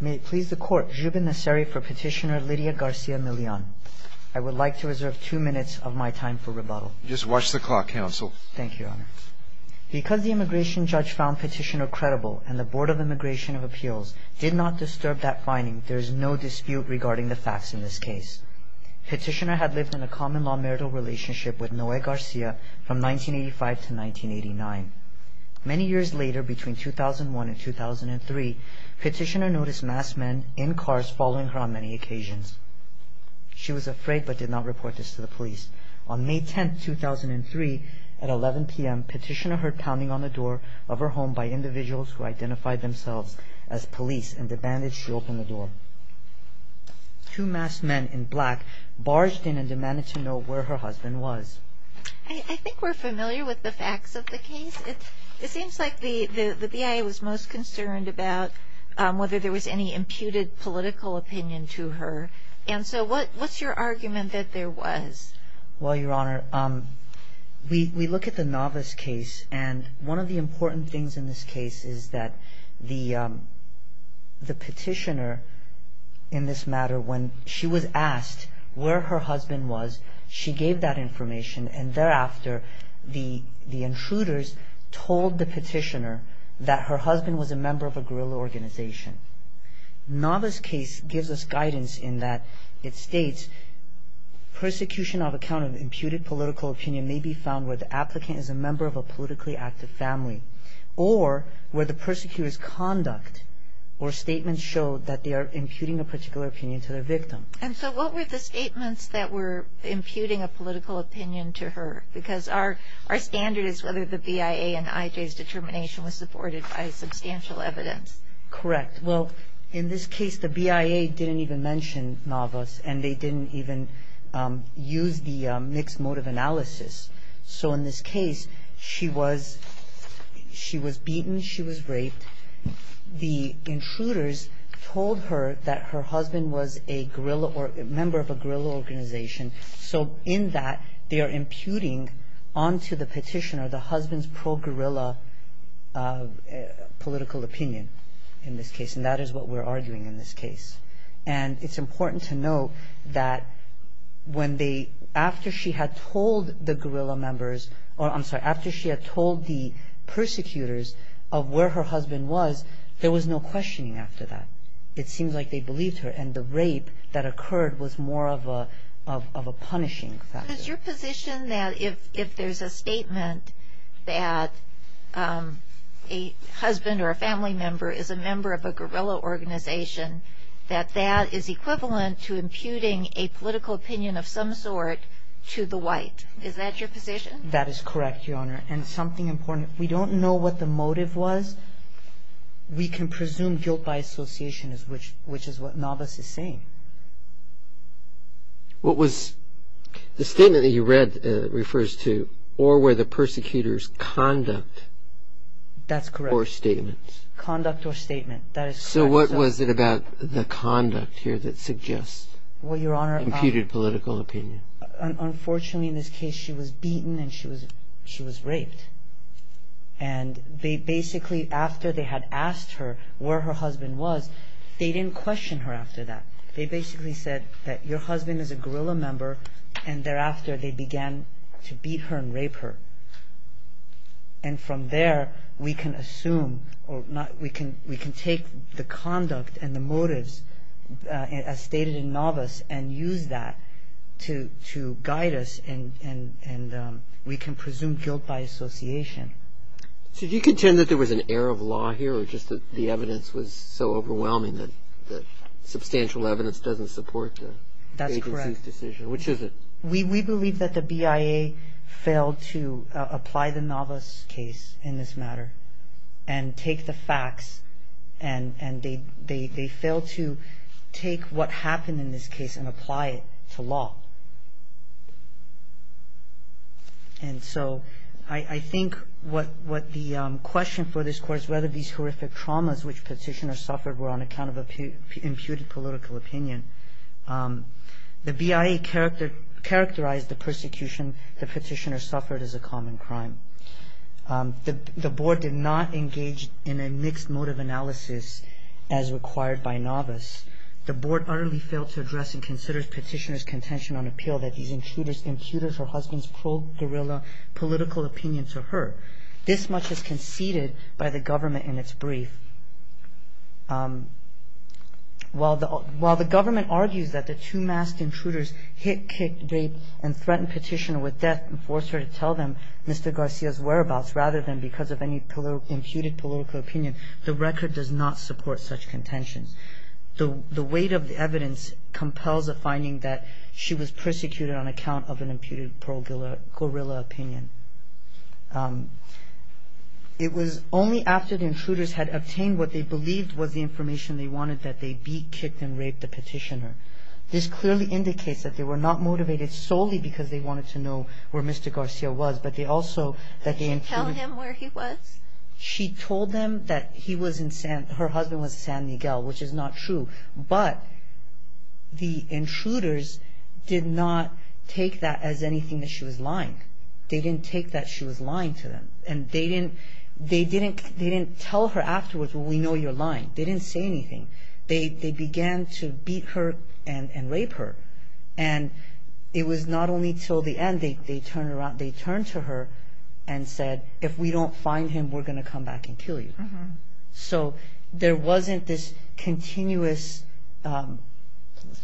May it please the Court, Jubin Nasseri for Petitioner Lydia Garcia-Milian. I would like to reserve two minutes of my time for rebuttal. Just watch the clock, Counsel. Thank you, Your Honor. Because the immigration judge found Petitioner credible and the Board of Immigration of Appeals did not disturb that finding, there is no dispute regarding the facts in this case. Petitioner had lived in a common law marital relationship with Noe Garcia from 1985 to 1989. Many years later, between 2001 and 2003, Petitioner noticed masked men in cars following her on many occasions. She was afraid but did not report this to the police. On May 10, 2003, at 11 p.m., Petitioner heard pounding on the door of her home by individuals who identified themselves as police and demanded she open the door. Two masked men in black barged in and demanded to know where her husband was. I think we're familiar with the facts of the case. It seems like the BIA was most concerned about whether there was any imputed political opinion to her. And so what's your argument that there was? Well, Your Honor, we look at the novice case and one of the important things in this case is that the Petitioner, in this matter, when she was asked where her husband was, she gave that information and thereafter, the intruders told the Petitioner that her husband was a member of a guerrilla organization. Novice case gives us guidance in that it states, persecution of account of imputed political opinion may be found where the applicant is a member of a politically active family or where the persecutor's conduct or statements show that they are imputing a particular opinion to their victim. And so what were the statements that were imputing a political opinion to her? Because our standard is whether the BIA and IJ's determination was supported by substantial evidence. Correct. Well, in this case, the BIA didn't even mention novice and they didn't even use the mixed motive analysis. So in this case, she was beaten, she was raped. The intruders told her that her husband was a member of a guerrilla organization. So in that, they are imputing onto the Petitioner the husband's pro-guerrilla political opinion in this case. And that is what we're arguing in this case. And it's important to note that when they, after she had told the guerrilla members, or I'm sorry, after she had told the persecutors of where her husband was, there was no questioning after that. It seems like they believed her and the rape that occurred was more of a punishing factor. But is your position that if there's a statement that a husband or a family member is a member of a guerrilla organization, that that is equivalent to imputing a political opinion of some sort to the white? Is that your position? That is correct, Your Honor. And something important, we don't know what the motive was. We can presume guilt by association, which is what novice is saying. What was, the statement that you read refers to, or were the persecutors conduct? That's correct. Or statements? Conduct or statement, that is correct. So what was it about the conduct here that suggests imputed political opinion? Well, Your Honor, unfortunately in this case, she was beaten and she was raped. And they basically, after they had asked her where her husband was, they didn't question her after that. They basically said that your husband is a guerrilla member, and thereafter they began to beat her and rape her. And from there, we can assume, we can take the conduct and the motives as stated in novice and use that to guide us and we can presume guilt by association. So do you contend that there was an error of law here or just that the evidence was so overwhelming that substantial evidence doesn't support the agency's decision? That's correct. Which is it? We believe that the BIA failed to apply the novice case in this matter and take the facts and they failed to take what happened in this case and apply it to law. And so I think what the question for this Court is whether these horrific traumas which Petitioner suffered were on account of imputed political opinion. The BIA characterized the persecution that Petitioner suffered as a common crime. The Board did not engage in a mixed motive analysis as required by novice. The Board utterly failed to address and consider Petitioner's contention on appeal that these intruders imputed her husband's pro-guerrilla political opinion to her. This much is conceded by the government in its brief. While the government argues that the two masked intruders hit, kicked, raped, and threatened Petitioner with death and forced her to tell them Mr. Garcia's whereabouts rather than because of any imputed political opinion, the record does not support such contentions. The weight of the evidence compels the finding that she was persecuted on account of an imputed pro-guerrilla opinion. It was only after the intruders had obtained what they believed was the information they wanted that they beat, kicked, and raped the Petitioner. This clearly indicates that they were not motivated solely because they wanted to know where Mr. Garcia was, but they also... Did she tell him where he was? She told them that he was in San... her husband was in San Miguel, which is not true. But the intruders did not take that as anything that she was lying. They didn't take that she was lying to them. And they didn't tell her afterwards, well, we know you're lying. They didn't say anything. They began to beat her and rape her. And it was not only till the end they turned to her and said, if we don't find him, we're going to come back and kill you. So there wasn't this continuous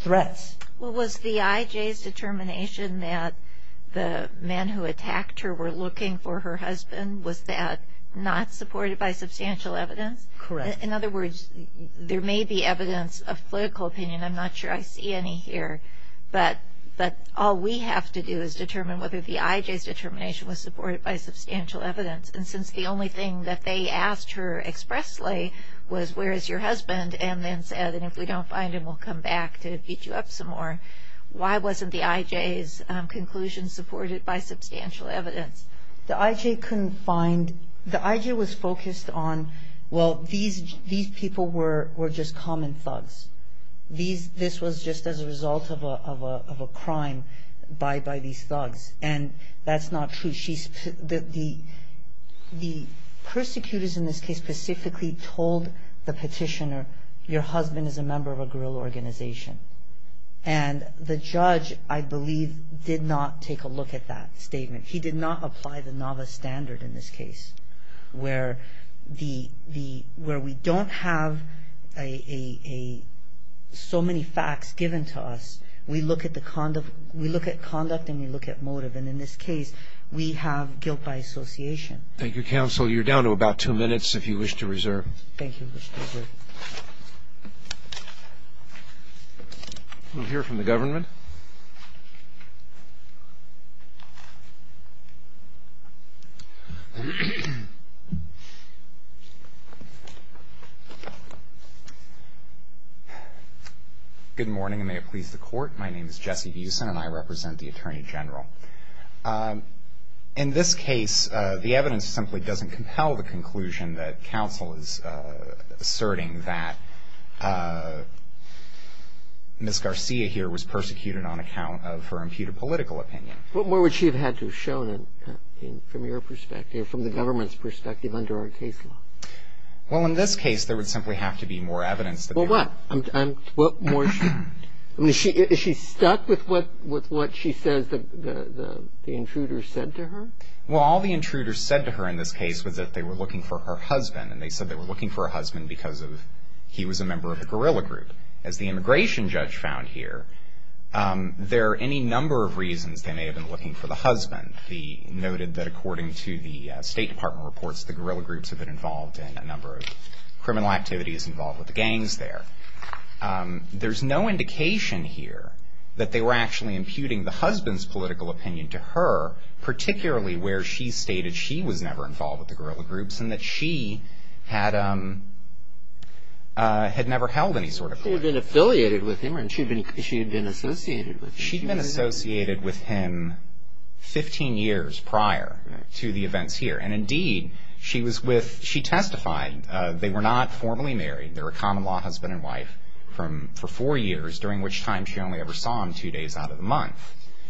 threats. Well, was the IJ's determination that the men who attacked her were looking for her husband, was that not supported by substantial evidence? Correct. In other words, there may be evidence of political opinion. I'm not sure I see any here. But all we have to do is determine whether the IJ's determination was supported by substantial evidence. And since the only thing that they asked her expressly was, where is your husband, and then said, and if we don't find him, we'll come back to beat you up some more, why wasn't the IJ's conclusion supported by substantial evidence? The IJ couldn't find... The IJ was focused on, well, these people were just common thugs. This was just as a result of a crime by these thugs. And that's not true. The persecutors in this case specifically told the petitioner, your husband is a member of a guerrilla organization. And the judge, I believe, did not take a look at that statement. He did not apply the novice standard in this case, where we don't have so many facts given to us. We look at conduct and we look at motive. And in this case, we have guilt by association. Thank you, counsel. You're down to about two minutes, if you wish to reserve. Thank you. I want to hear from the government. Good morning, and may it please the court. My name is Jesse Buesen and I represent the Attorney General. In this case, the evidence simply doesn't compel the conclusion that counsel is asserting that Ms. Garcia here was persecuted on account of her imputed political opinion. What more would she have had to have shown from your perspective, from the government's perspective under our case law? Well, in this case, there would simply have to be more evidence. Well, what? Is she stuck with what she says the intruder said to her? Well, all the intruders said to her in this case was that they were looking for her husband, and they said they were looking for her husband because he was a member of a guerrilla group. As the immigration judge found here, there are any number of reasons they may have been looking for the husband. He noted that according to the State Department reports, the guerrilla groups have been involved in a number of criminal activities involved with the gangs there. There's no indication here that they were actually imputing the husband's political opinion to her, particularly where she stated she was never involved with the guerrilla groups and that she had never held any sort of political opinion. She had been affiliated with him, or she had been associated with him? She had been associated with him 15 years prior to the events here. And indeed, she testified they were not formally married. They were a common-law husband and wife for four years, during which time she only ever saw him two days out of the month.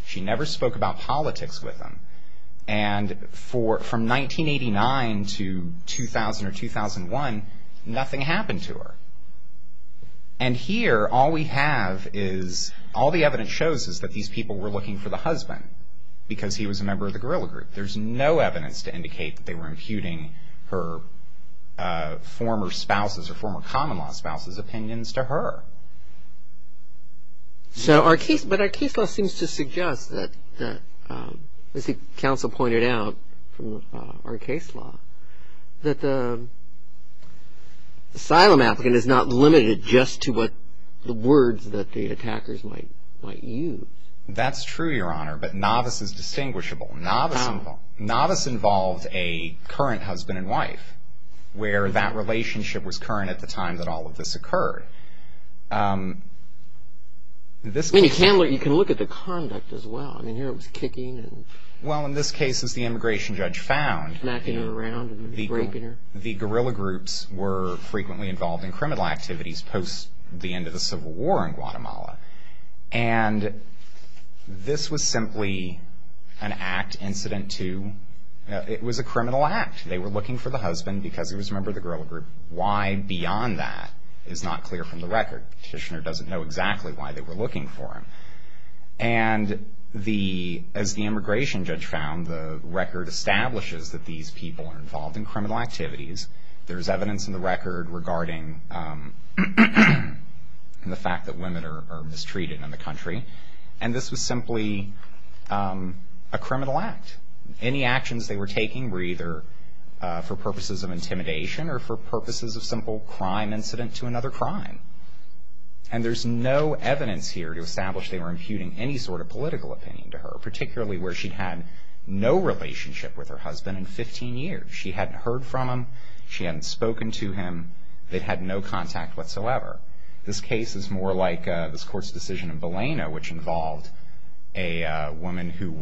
She never spoke about politics with him. And from 1989 to 2000 or 2001, nothing happened to her. And here, all we have is, all the evidence shows is that these people were looking for the husband because he was a member of the guerrilla group. There's no evidence to indicate that they were imputing her former spouses, her former common-law spouses' opinions to her. But our case law seems to suggest that, as the counsel pointed out from our case law, that the asylum applicant is not limited just to the words that the attackers might use. That's true, Your Honor, but novice is distinguishable. Novice involved a current husband and wife, where that relationship was current at the time that all of this occurred. I mean, you can look at the conduct as well. I mean, here it was kicking. Well, in this case, as the immigration judge found, the guerrilla groups were frequently involved in criminal activities post the end of the Civil War in Guatemala. And this was simply an act incident to, it was a criminal act. They were looking for the husband because he was a member of the guerrilla group. Why beyond that is not clear from the record. Petitioner doesn't know exactly why they were looking for him. And as the immigration judge found, the record establishes that these people are involved in criminal activities. There is evidence in the record regarding the fact that women are mistreated in the country. And this was simply a criminal act. Any actions they were taking were either for purposes of intimidation or for purposes of simple crime incident to another crime. And there's no evidence here to establish they were imputing any sort of political opinion to her, particularly where she'd had no relationship with her husband in 15 years. She hadn't heard from him. She hadn't spoken to him. They'd had no contact whatsoever. This case is more like this court's decision in Baleno, which involved a woman who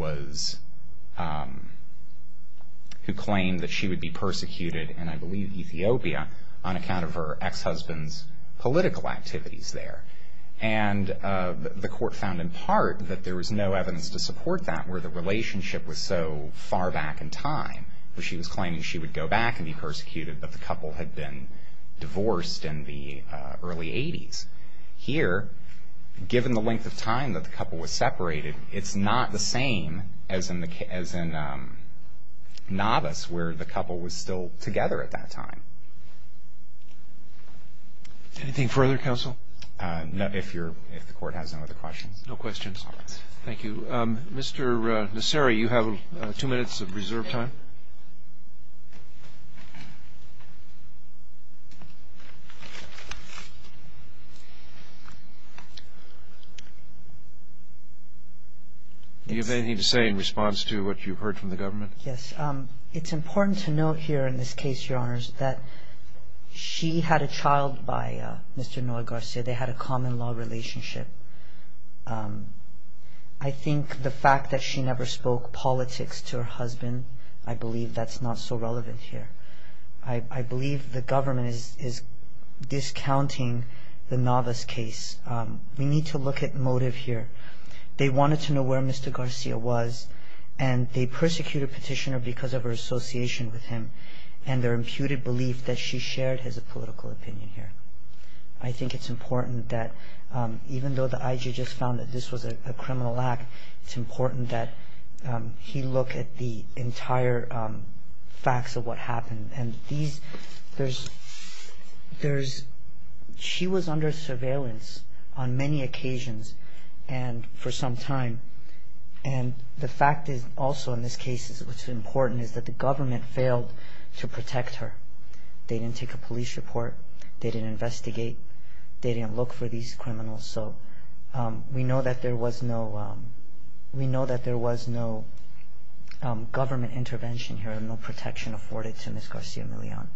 claimed that she would be persecuted, and I believe Ethiopia, on account of her ex-husband's political activities there. And the court found in part that there was no evidence to support that, where the relationship was so far back in time, where she was claiming she would go back and be persecuted, but the couple had been divorced in the early 80s. Here, given the length of time that the couple was separated, it's not the same as in Navas, where the couple was still together at that time. Anything further, counsel? If the court has no other questions. No questions. Thank you. Mr. Naseri, you have two minutes of reserve time. Do you have anything to say in response to what you've heard from the government? Yes. It's important to note here in this case, Your Honors, that she had a child by Mr. Noah Garcia. They had a common-law relationship. I think the fact that she never spoke politics to her husband, I believe that's not so relevant here. I believe the government is discounting the Navas case. We need to look at motive here. They wanted to know where Mr. Garcia was, and they persecuted Petitioner because of her association with him and their imputed belief that she shared his political opinion here. I think it's important that even though the IG just found that this was a criminal act, it's important that he look at the entire facts of what happened. She was under surveillance on many occasions for some time, and the fact is also in this case what's important is that the government failed to protect her. They didn't take a police report. They didn't investigate. They didn't look for these criminals. So we know that there was no government intervention here and no protection afforded to Ms. Garcia Millon.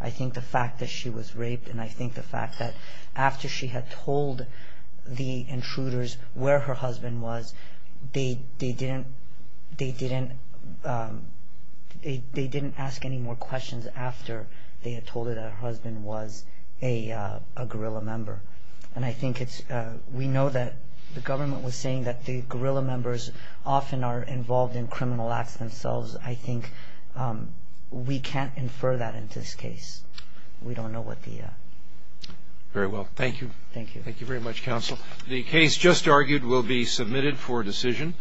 I think the fact that she was raped and I think the fact that after she had told the intruders where her husband was, they didn't ask any more questions after they had told her that her husband was a guerrilla member. And I think we know that the government was saying that the guerrilla members often are involved in criminal acts themselves. I think we can't infer that in this case. We don't know what the... Very well. Thank you. Thank you. Thank you very much, Counsel. The case just argued will be submitted for decision.